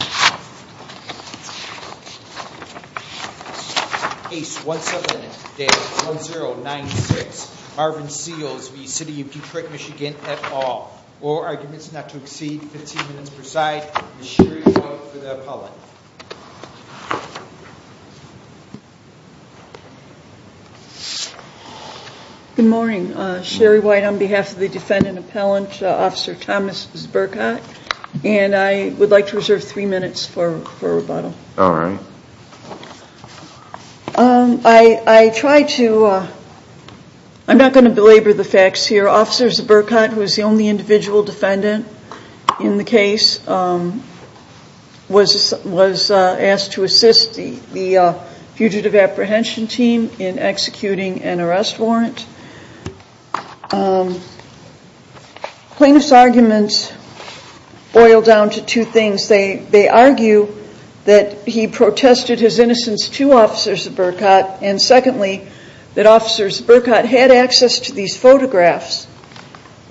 Good morning, Sherry White on behalf of the defendant appellant, Officer Thomas Burkott, and I would like to reserve three minutes for rebuttal. I'm not going to belabor the facts here. Officer Burkott, who is the only individual defendant in the case, was asked to assist the fugitive apprehension team in executing an arrest warrant. Plaintiff's arguments boil down to two things. They argue that he protested his innocence to Officers Burkott, and secondly, that Officers Burkott had access to these photographs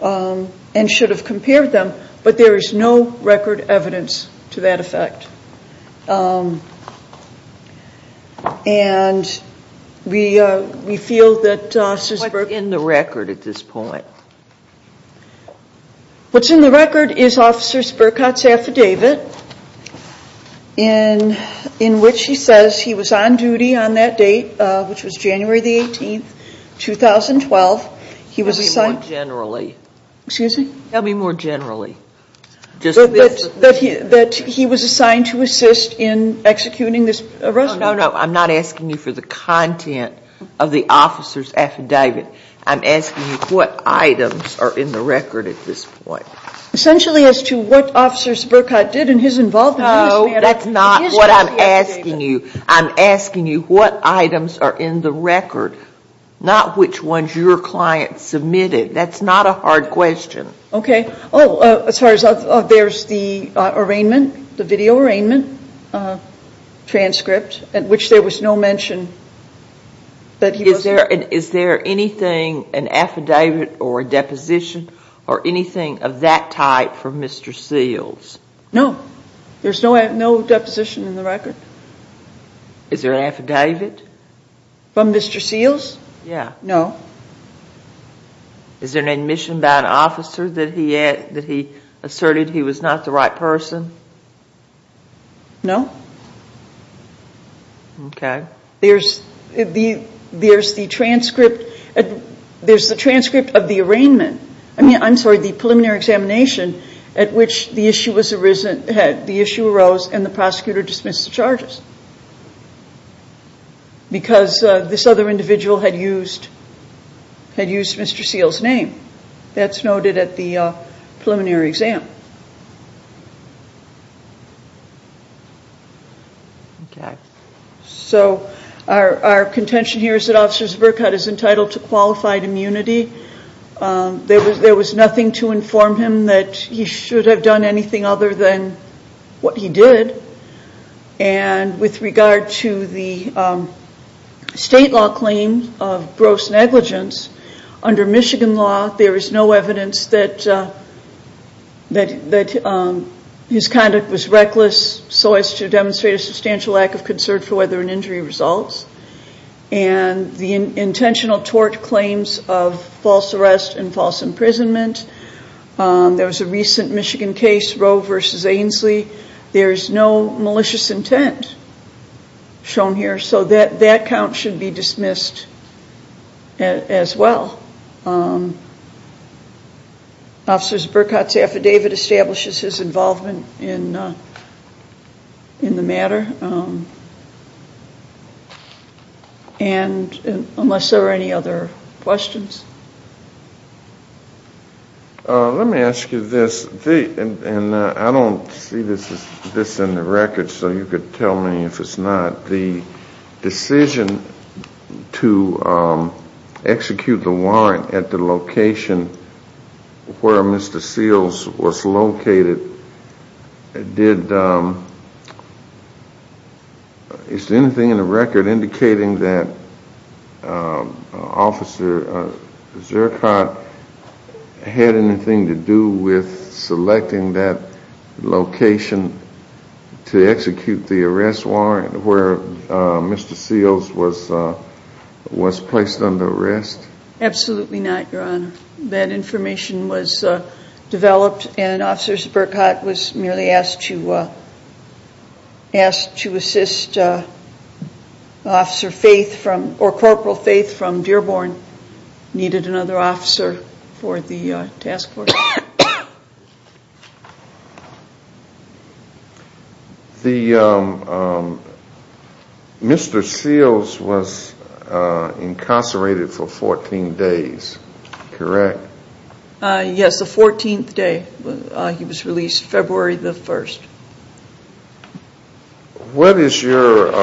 and should have compared them, but there is no record evidence to that effect. What's in the record is Officers Burkott's affidavit, in which he says he was on duty on that date, which was January 18, 2012. He was assigned to assist in executing this arrest warrant. No, no, I'm not asking you for the content of the Officer's affidavit. I'm asking you what items are in the record at this point. Essentially as to what Officers Burkott did and his involvement. That's not what I'm asking you. I'm asking you what items are in the record, not which ones your client submitted. That's not a hard question. There's the video arraignment transcript, which there was no mention. Is there anything, an affidavit or a deposition, or anything of that type for Mr. Seals? No, there's no deposition in the record. Is there an affidavit? From Mr. Seals? Yeah. No. Is there an admission by an officer that he asserted he was not the right person? No. Okay. There's the transcript of the arraignment, I mean, I'm sorry, the preliminary examination at which the issue was arisen, the issue arose and the prosecutor dismissed the charges. Because this other individual had used Mr. Seals' name. That's noted at the preliminary exam. Okay. So our contention here is that Officers Burkott is entitled to qualified immunity. There was nothing to inform him that he should have done anything other than what he did. And with regard to the state law claim of gross negligence, under Michigan law, there is no evidence that his conduct was reckless so as to demonstrate a substantial lack of concern for whether an injury results. And the intentional tort claims of false arrest and false imprisonment, there was a recent Michigan case, Rowe v. Ainslie, there's no malicious intent shown here so that count should be dismissed as well. Officers Burkott's affidavit establishes his involvement in the matter. And unless there are any other questions? Let me ask you this, and I don't see this in the record so you could tell me if it's not, the decision to execute the warrant at the location where Mr. Seals was located, it did, is there anything in the record indicating that Officer Burkott had anything to do with selecting that location to execute the arrest warrant where Mr. Seals was placed under arrest? Absolutely not, Your Honor. That information was developed and Officers Burkott was merely asked to assist Officer Faith from, or Corporal Faith from Dearborn needed another officer for the task force. The, Mr. Seals was incarcerated for 14 days, correct? Yes, the 14th day, he was released February the 1st. What is your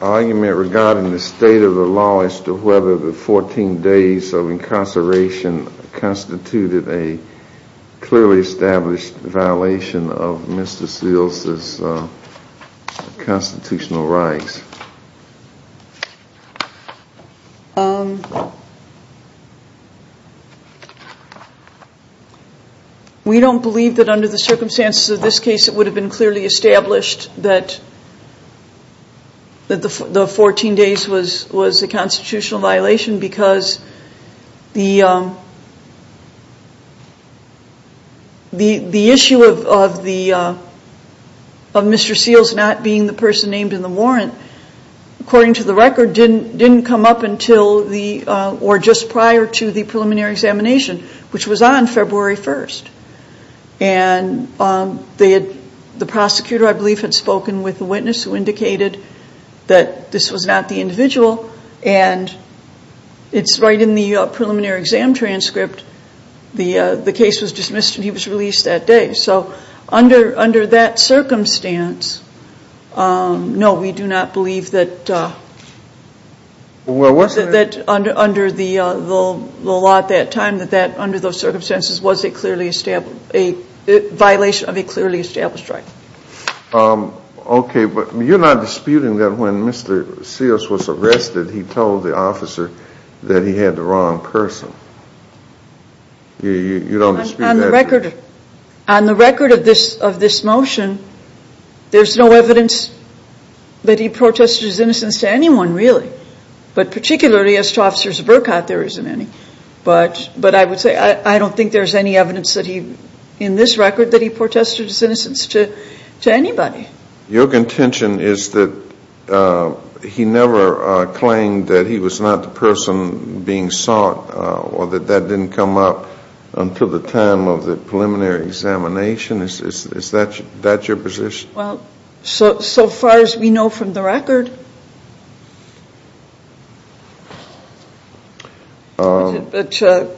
argument regarding the state of the law as to whether the 14 days of incarceration constituted a clearly established violation of Mr. Seals' constitutional rights? We don't believe that under the circumstances of this case it would have been clearly established that the 14 days was a constitutional violation because the issue of Mr. Seals not being the person named in the warrant, according to the record, didn't come up until the, or just prior to the preliminary examination, which was on February 1st. And the prosecutor, I believe, had spoken with the witness who indicated that this was not the individual and it's right in the preliminary exam transcript the case was dismissed and he was released that day. So under that circumstance, no, we do not believe that under the law at that time, that under those circumstances was it violation of a clearly established right. Okay, but you're not disputing that when Mr. Seals was arrested, he told the officer that he had the wrong person. You don't dispute that? On the record of this motion, there's no evidence that he protested his innocence to anyone really, but particularly as to Officers Burkott, there isn't any. But I would say I don't think there's any evidence that he, in this record, that he protested his innocence to anybody. Your contention is that he never claimed that he was not the person being sought or that that didn't come up until the time of the preliminary examination. Is that your position? Well, so far as we know from the record, but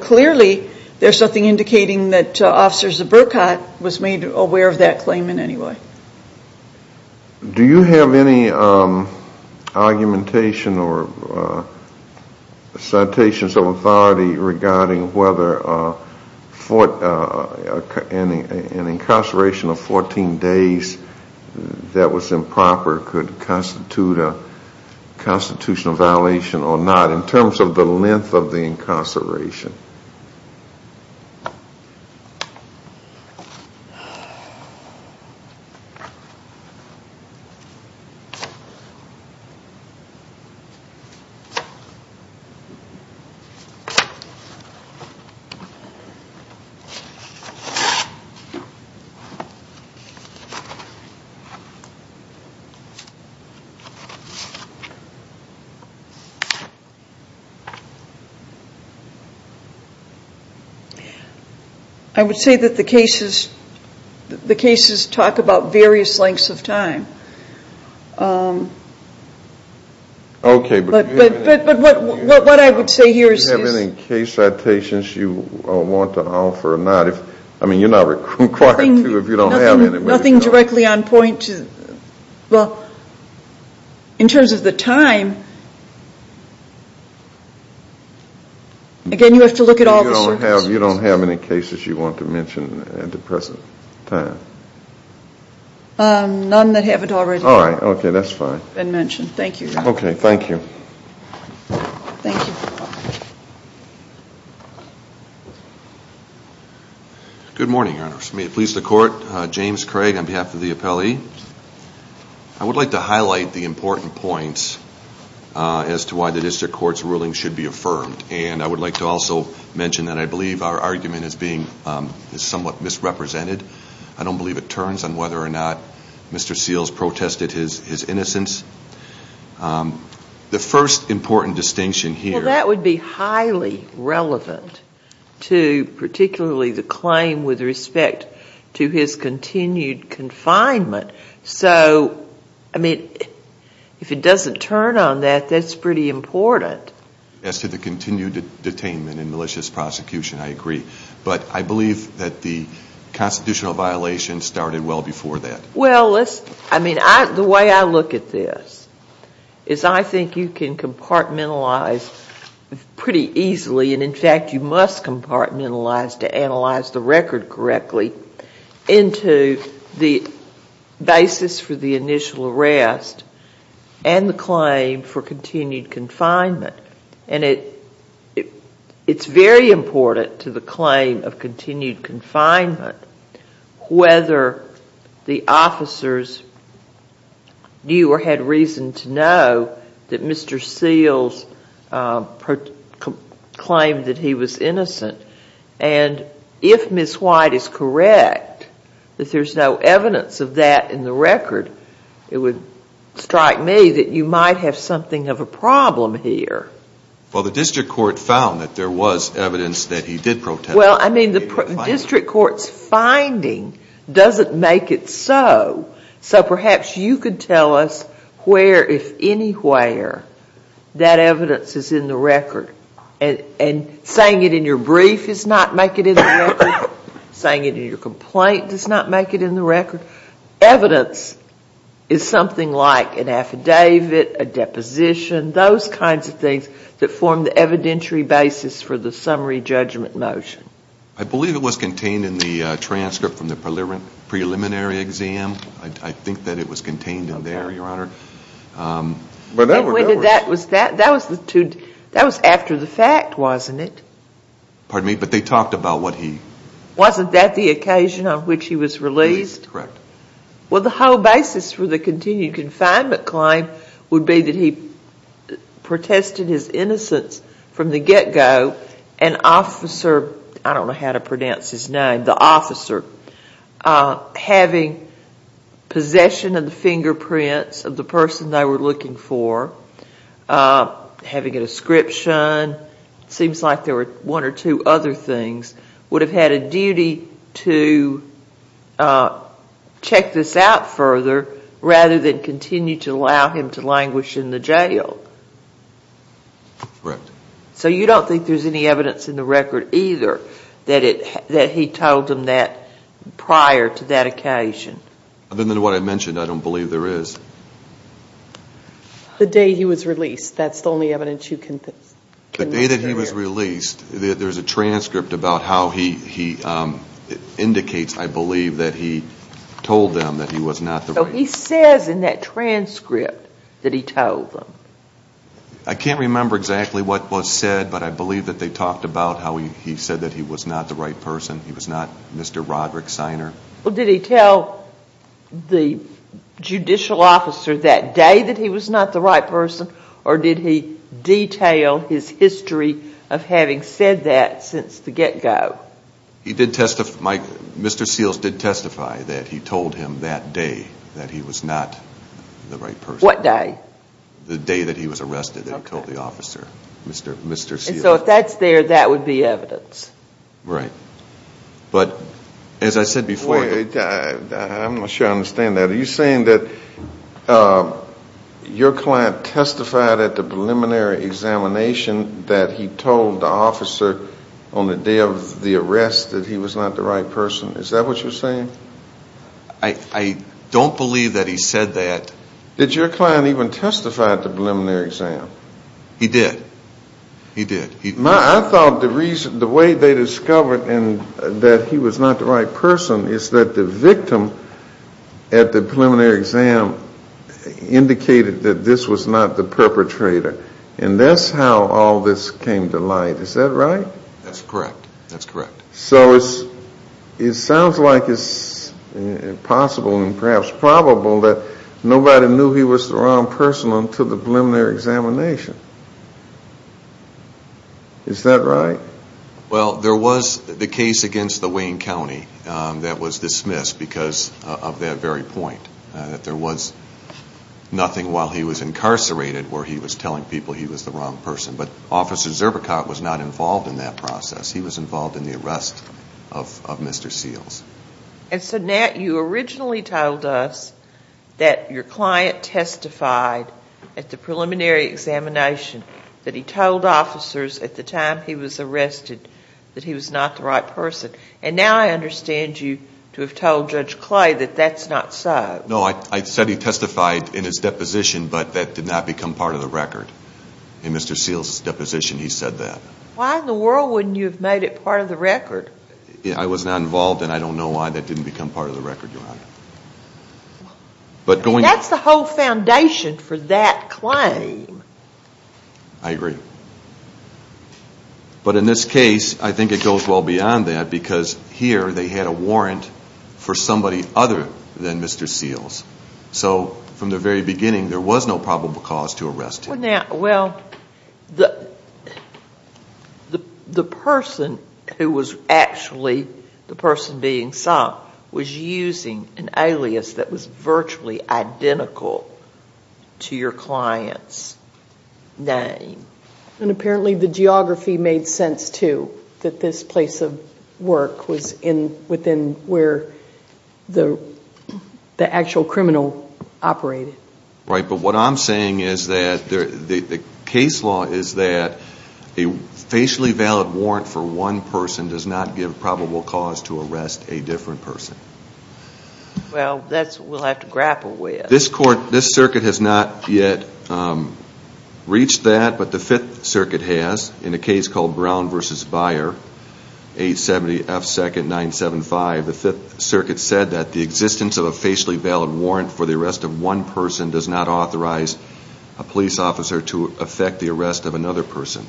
clearly there's nothing indicating that Officers Burkott was made aware of that claim in any way. Do you have any argumentation or citations of authority regarding whether an incarceration of 14 days that was improper could constitute a constitutional violation or not in terms of the length of the incarceration? I would say that the cases talk about various lengths of time. Do you have any case citations you want to offer or not? Nothing directly on point. Well, in terms of the time, again, you have to look at all the surveys. You don't have any cases you want to mention at the present time? None that haven't already. All right. Okay. That's fine. Been mentioned. Thank you, Your Honor. Okay. Thank you. Good morning, Your Honor. May it please the Court, James Craig on behalf of the appellee. I would like to highlight the important points as to why the District Court's ruling should be affirmed. And I would like to also mention that I believe our argument is somewhat misrepresented. I don't believe it turns on whether or not Mr. Seals protested his innocence. The first important distinction here— Well, that would be highly relevant to particularly the claim with respect to his continued confinement. So, I mean, if it doesn't turn on that, that's pretty important. As to the continued detainment and malicious prosecution, I agree. But I believe that the constitutional violation started well before that. Well, let's—I mean, the way I look at this is I think you can compartmentalize pretty easily, and in fact you must compartmentalize to analyze the record correctly, into the basis for the initial arrest and the claim for continued confinement. And it's very important to the claim of continued confinement whether the officers knew or had reason to know that Mr. Seals claimed that he was innocent. And if Ms. White is correct, that there's no evidence of that in the record, it would strike me that you might have something of a problem here. Well, the district court found that there was evidence that he did protest. Well, I mean, the district court's finding doesn't make it so. So perhaps you could tell us where, if anywhere, that evidence is in the record. And saying it in your brief does not make it in the record. Saying it in your complaint does not make it in the record. Evidence is something like an affidavit, a deposition, those kinds of things that form the evidentiary basis for the summary judgment motion. I believe it was contained in the transcript from the preliminary exam. I think that it was contained in there, Your Honor. But that was after the fact, wasn't it? Pardon me, but they talked about what he— Wasn't that the occasion on which he was released? Correct. Well, the whole basis for the continued confinement claim would be that he protested his innocence from the get-go. An officer—I don't know how to pronounce his name—the officer having possession of the fingerprints of the person they were looking for, having a description, it seems like there were one or two other things, would have had a duty to check this out further rather than continue to allow him to languish in the jail. Correct. So you don't think there's any evidence in the record either that he told them that prior to that occasion? Other than what I mentioned, I don't believe there is. The day he was released, that's the only evidence you can— The day that he was released, there's a transcript about how he indicates, I believe, that he told them that he was not the right— So he says in that transcript that he told them. I can't remember exactly what was said, but I believe that they talked about how he said that he was not the right person, he was not Mr. Roderick Siner. Well, did he tell the judicial officer that day that he was not the right person, or did he detail his history of having said that since the get-go? He did testify, Mr. Seals did testify that he told him that day that he was not the right person. What day? The day that he was arrested and told the officer, Mr. Seals. And so if that's there, that would be evidence. Right. But as I said before— Wait, I'm not sure I understand that. Are you saying that your client testified at the preliminary examination that he told the officer on the day of the arrest that he was not the right person? Is that what you're saying? I don't believe that he said that. Did your client even testify at the preliminary exam? He did. He did. I thought the way they discovered that he was not the right person is that the victim at the preliminary exam indicated that this was not the perpetrator. And that's how all this came to light. Is that right? That's correct. That's correct. So it sounds like it's possible and perhaps probable that nobody knew he was the wrong person until the preliminary examination. Is that right? Well, there was the case against the Wayne County that was dismissed because of that very point, that there was nothing while he was incarcerated where he was telling people he was the wrong person. But Officer Zurbichau was not involved in that process. He was involved in the arrest of Mr. Seals. And so Nat, you originally told us that your client testified at the preliminary examination that he told officers at the time he was arrested that he was not the right person. And now I understand you to have told Judge Clay that that's not so. I said he testified in his deposition but that did not become part of the record. In Mr. Seals' deposition he said that. Why in the world wouldn't you have made it part of the record? I was not involved and I don't know why that didn't become part of the record, Your Honor. That's the whole foundation for that claim. I agree. But in this case, I think it goes well beyond that because here they had a warrant for somebody other than Mr. Seals. So from the very beginning there was no probable cause to arrest him. Well, the person who was actually the person being sought was using an alias that was virtually identical to your client's name. And apparently the geography made sense too. That this place of work was within where the actual criminal operated. Right, but what I'm saying is that the case law is that a facially valid warrant for one person does not give probable cause to arrest a different person. Well, that's what we'll have to grapple with. This circuit has not yet reached that, but the Fifth Circuit has in a case called Brown v. Byer, 870 F. 2nd 975. The Fifth Circuit said that the existence of a facially valid warrant for the arrest of one person does not authorize a police officer to affect the arrest of another person.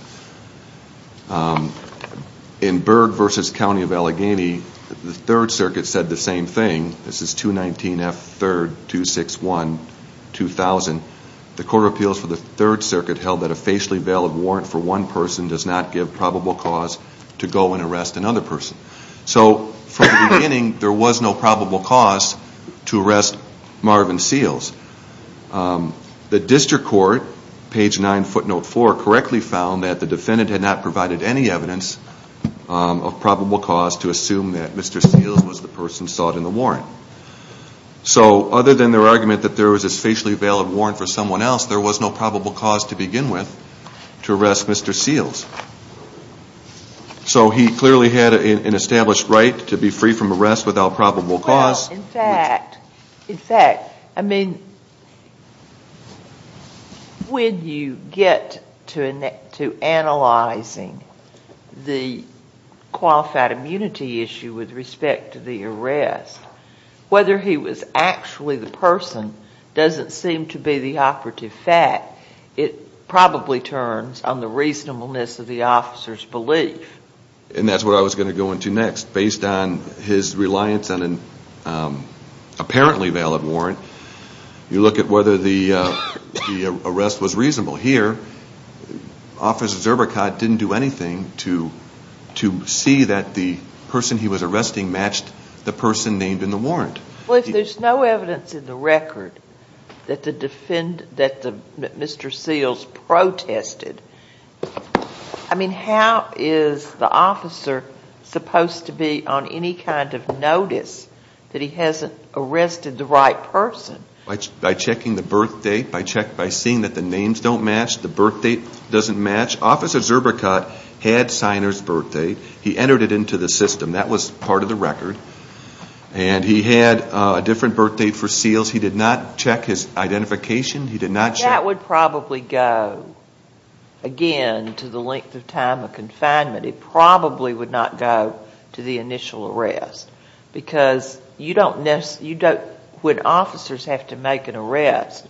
In Berg v. County of Allegheny, the Third Circuit said the same thing. This is 219 F. 3rd 261 2000. The Court of Appeals for the Third Circuit held that a facially valid warrant for one person does not give probable cause to go and arrest another person. So from the beginning there was no probable cause to arrest Marvin Seals. The District Court, page 9 footnote 4, correctly found that the defendant had not provided any evidence of probable cause to assume that Mr. Seals was the person sought in the warrant. So other than their argument that there was a facially valid warrant for someone else, there was no probable cause to begin with to arrest Mr. Seals. So he clearly had an established right to be free from arrest without probable cause. Well, in fact, in fact, I mean, when you get to analyzing the qualified immunity issue with respect to the arrest, whether he was actually the person doesn't seem to be the operative fact. It probably turns on the reasonableness of the officer's belief. And that's what I was going to go into next. Based on his reliance on an apparently valid warrant, you look at whether the arrest was reasonable. Here, Officer Zurbichat didn't do anything to see that the person he was arresting matched the person named in the warrant. Well, if there's no evidence in the record that the defendant, that Mr. Seals protested, I mean, how is the officer supposed to be on any kind of notice that he hasn't arrested the right person? By checking the birth date, by checking, by seeing that the names don't match, the birth date doesn't match. Officer Zurbichat had signer's birth date. He entered it into the system. That was part of the record. And he had a different birth date for Seals. He did not check his identification. He did not check. That would probably go, again, to the length of time of confinement. It probably would not go to the initial arrest. Because you don't necessarily, you don't, when officers have to make an arrest,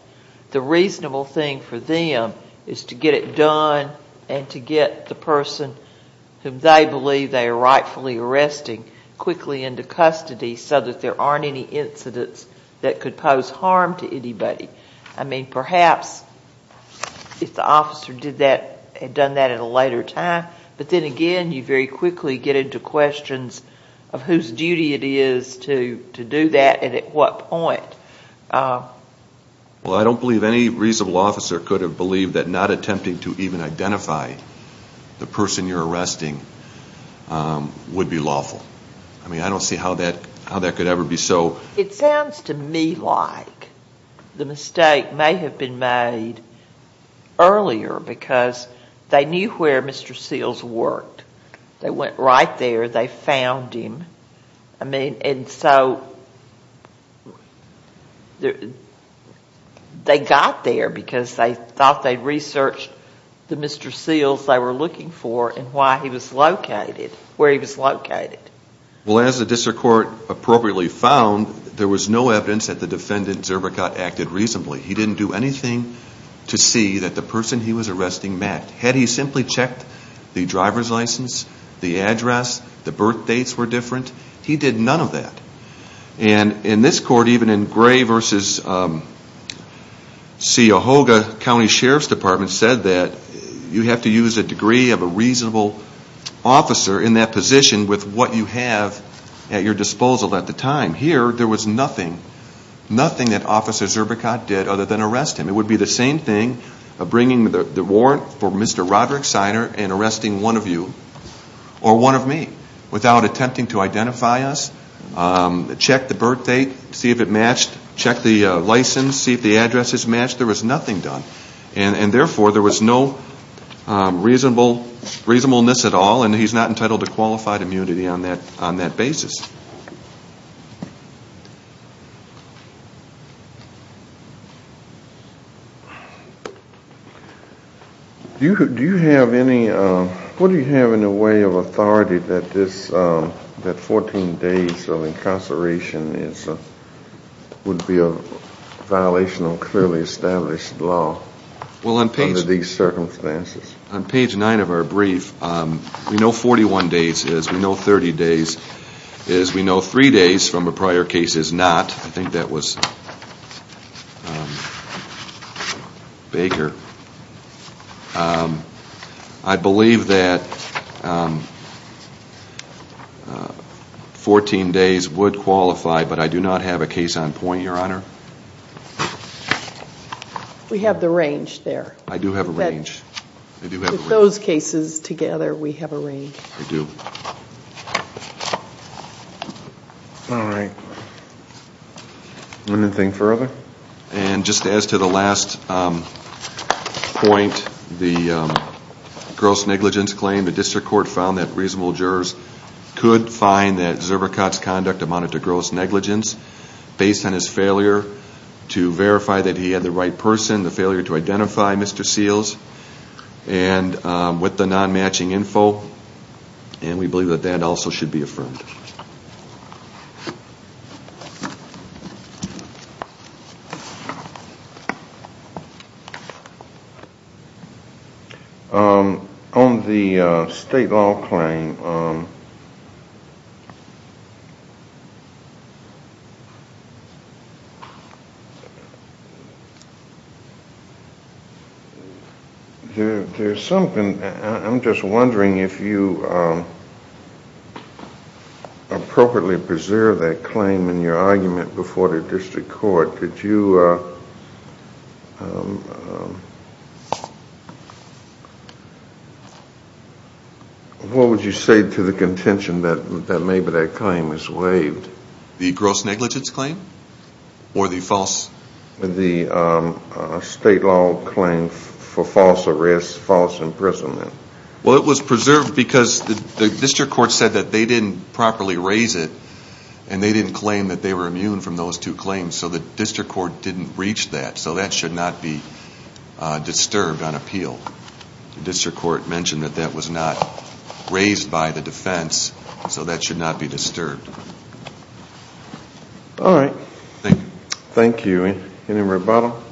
the reasonable thing for them is to get it done and to get the person whom they believe they are rightfully arresting quickly into custody so that there aren't any incidents that could pose harm to anybody. I mean, perhaps if the officer did that, had done that at a later time, but then again, you very quickly get into questions of whose duty it is to do that and at what point. Well, I don't believe any reasonable officer could have believed that not attempting to even identify the person you're arresting would be lawful. I mean, I don't see how that could ever be so. It sounds to me like the mistake may have been made earlier because they knew where Mr. Seals worked. They went right there. They found him. I mean, and so they got there because they thought they'd researched the Mr. Seals they were looking for and why he was located, where he was located. Well, as the district court appropriately found, there was no evidence that the defendant Zerbakot acted reasonably. He didn't do anything to see that the person he was arresting met. Had he simply checked the driver's license, the address, the birth dates were different, he did none of that. And in this court, even in Gray v. Seahoga County Sheriff's Department said that you have to use a degree of a reasonable officer in that position with what you have at your disposal at the time. Here, there was nothing, nothing that Officer Zerbakot did other than arrest him. It would be the same thing of bringing the warrant for Mr. Roderick Siner and arresting one of you or one of me without attempting to identify us, check the birth date, see if it matched, check the license, see if the address is matched. There was nothing done. And therefore, there was no reasonableness at all and he's not entitled to qualified immunity on that basis. Do you have any, what do you have in the way of authority that this, that 14 days of incarceration would be a violation of clearly established law under these circumstances? On page 9 of our brief, we know 41 days is, we know 30 days is, we know 3 days from a prior case is not. I think that was Baker. I believe that 14 days would qualify but I do not have a case on point, Your Honor. We have the range there. I do have a range. With those cases together, we have a range. We do. All right. Anything further? And just as to the last point, the gross negligence claim, the district court found that reasonable jurors could find that Zurbakot's conduct amounted to gross negligence based on his failure to verify that he had the right person, the failure to identify Mr. Seals. And with the non-matching info, and we believe that that also should be affirmed. Okay. On the state law claim, there's something, I'm just wondering if you appropriately preserve that claim in your argument before the district court. Could you, what would you say to the contention that maybe that claim is waived? The gross negligence claim or the false? The state law claim for false arrest, false imprisonment. Well, it was preserved because the district court said that they didn't properly raise it and they didn't claim that they were immune from those two claims. So the district court didn't reach that. So that should not be disturbed on appeal. The district court mentioned that that was not raised by the defense, so that should not be disturbed. All right. Thank you. Any more about them?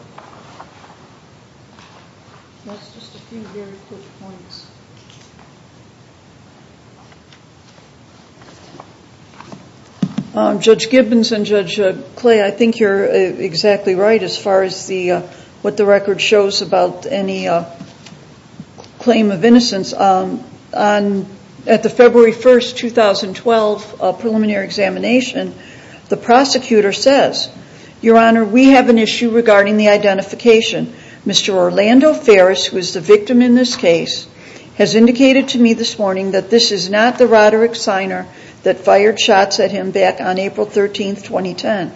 That's just a few very quick points. Judge Gibbons and Judge Clay, I think you're exactly right as far as what the record shows about any claim of innocence. At the February 1st, 2012 preliminary examination, the prosecutor says, Your Honor, we have an issue regarding the identification. Mr. Orlando Ferris, who is the victim in this case, has indicated to me this morning that this is not the Roderick Siner that fired shots at him back on April 13th, 2010.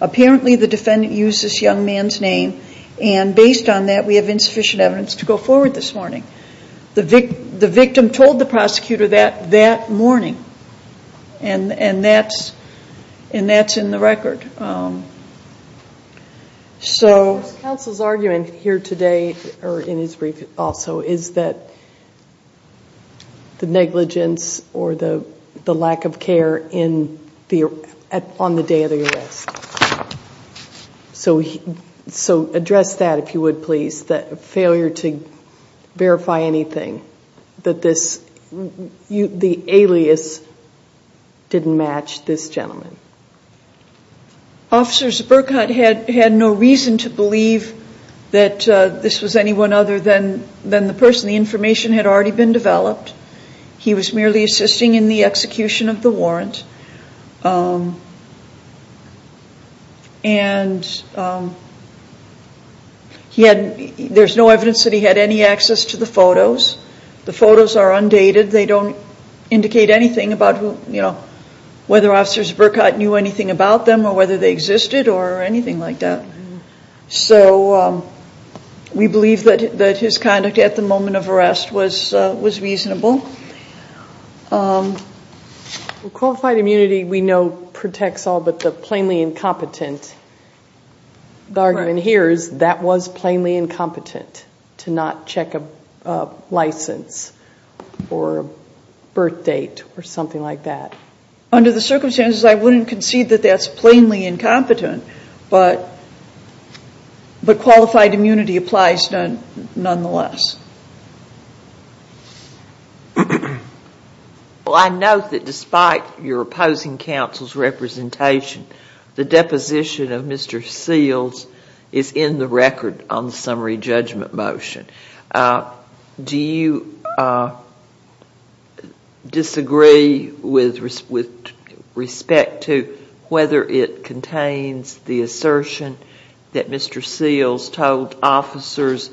Apparently, the defendant used this young man's name and based on that, we have insufficient evidence to go forward this morning. The victim told the prosecutor that that morning and that's in the record. So the counsel's argument here today, or in his brief also, is that the negligence or the lack of care on the day of the arrest. So address that, if you would, please. That failure to verify anything. That the alias didn't match this gentleman. Officers Burkott had no reason to believe that this was anyone other than the person. The information had already been developed. He was merely assisting in the execution of the warrant. And there's no evidence that he had any access to the photos. The photos are undated. They don't indicate anything about whether Officers Burkott knew anything about them or whether they existed or anything like that. So we believe that his conduct at the moment of arrest was reasonable. Qualified immunity, we know, protects all but the plainly incompetent. The argument here is that was plainly incompetent to not check a license or a birth date or something like that. Under the circumstances, I wouldn't concede that that's plainly incompetent. But qualified immunity applies nonetheless. Well, I note that despite your opposing counsel's representation, the deposition of Mr. Seals is in the record on the summary judgment motion. Do you disagree with respect to whether it contains the assertion that Mr. Seals told officers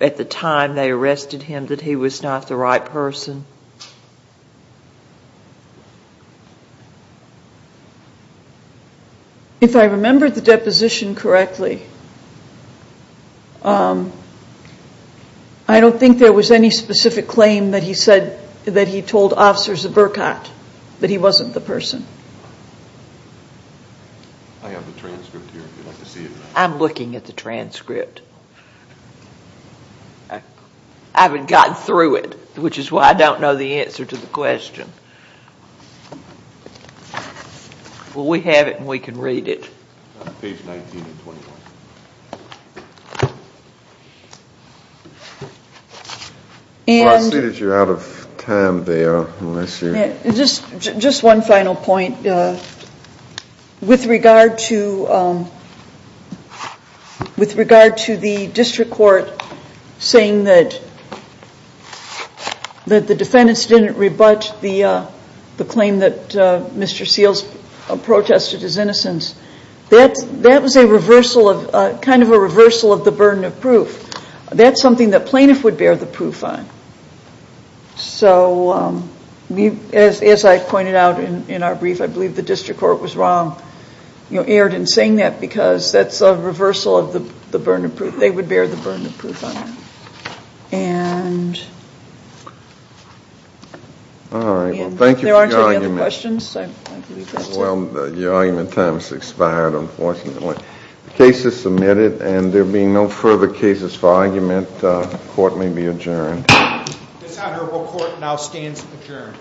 at the time they arrested him that he was not the right person? If I remember the deposition correctly, I don't think there was any specific claim that he said that he told officers of Burkott that he wasn't the person. I have the transcript here if you'd like to see it. I'm looking at the transcript. I haven't gotten through it, which is why I don't know the answer to the question. Well, we have it, and we can read it. Well, I see that you're out of time there. Just one final point. With regard to the district court saying that the defendants didn't rebut the claim that Mr. Seals protested his innocence, that was a reversal of the burden of proof. That's something that plaintiff would bear the proof on. So, as I pointed out in our brief, I believe the district court was wrong, erred in saying that because that's a reversal of the burden of proof. They would bear the burden of proof on it. All right, well, thank you for your argument. If there aren't any other questions, I'd like to leave that to you. Well, your argument time has expired, unfortunately. The case is submitted, and there being no further cases for argument, the court may be adjourned. This honorable court now stands adjourned.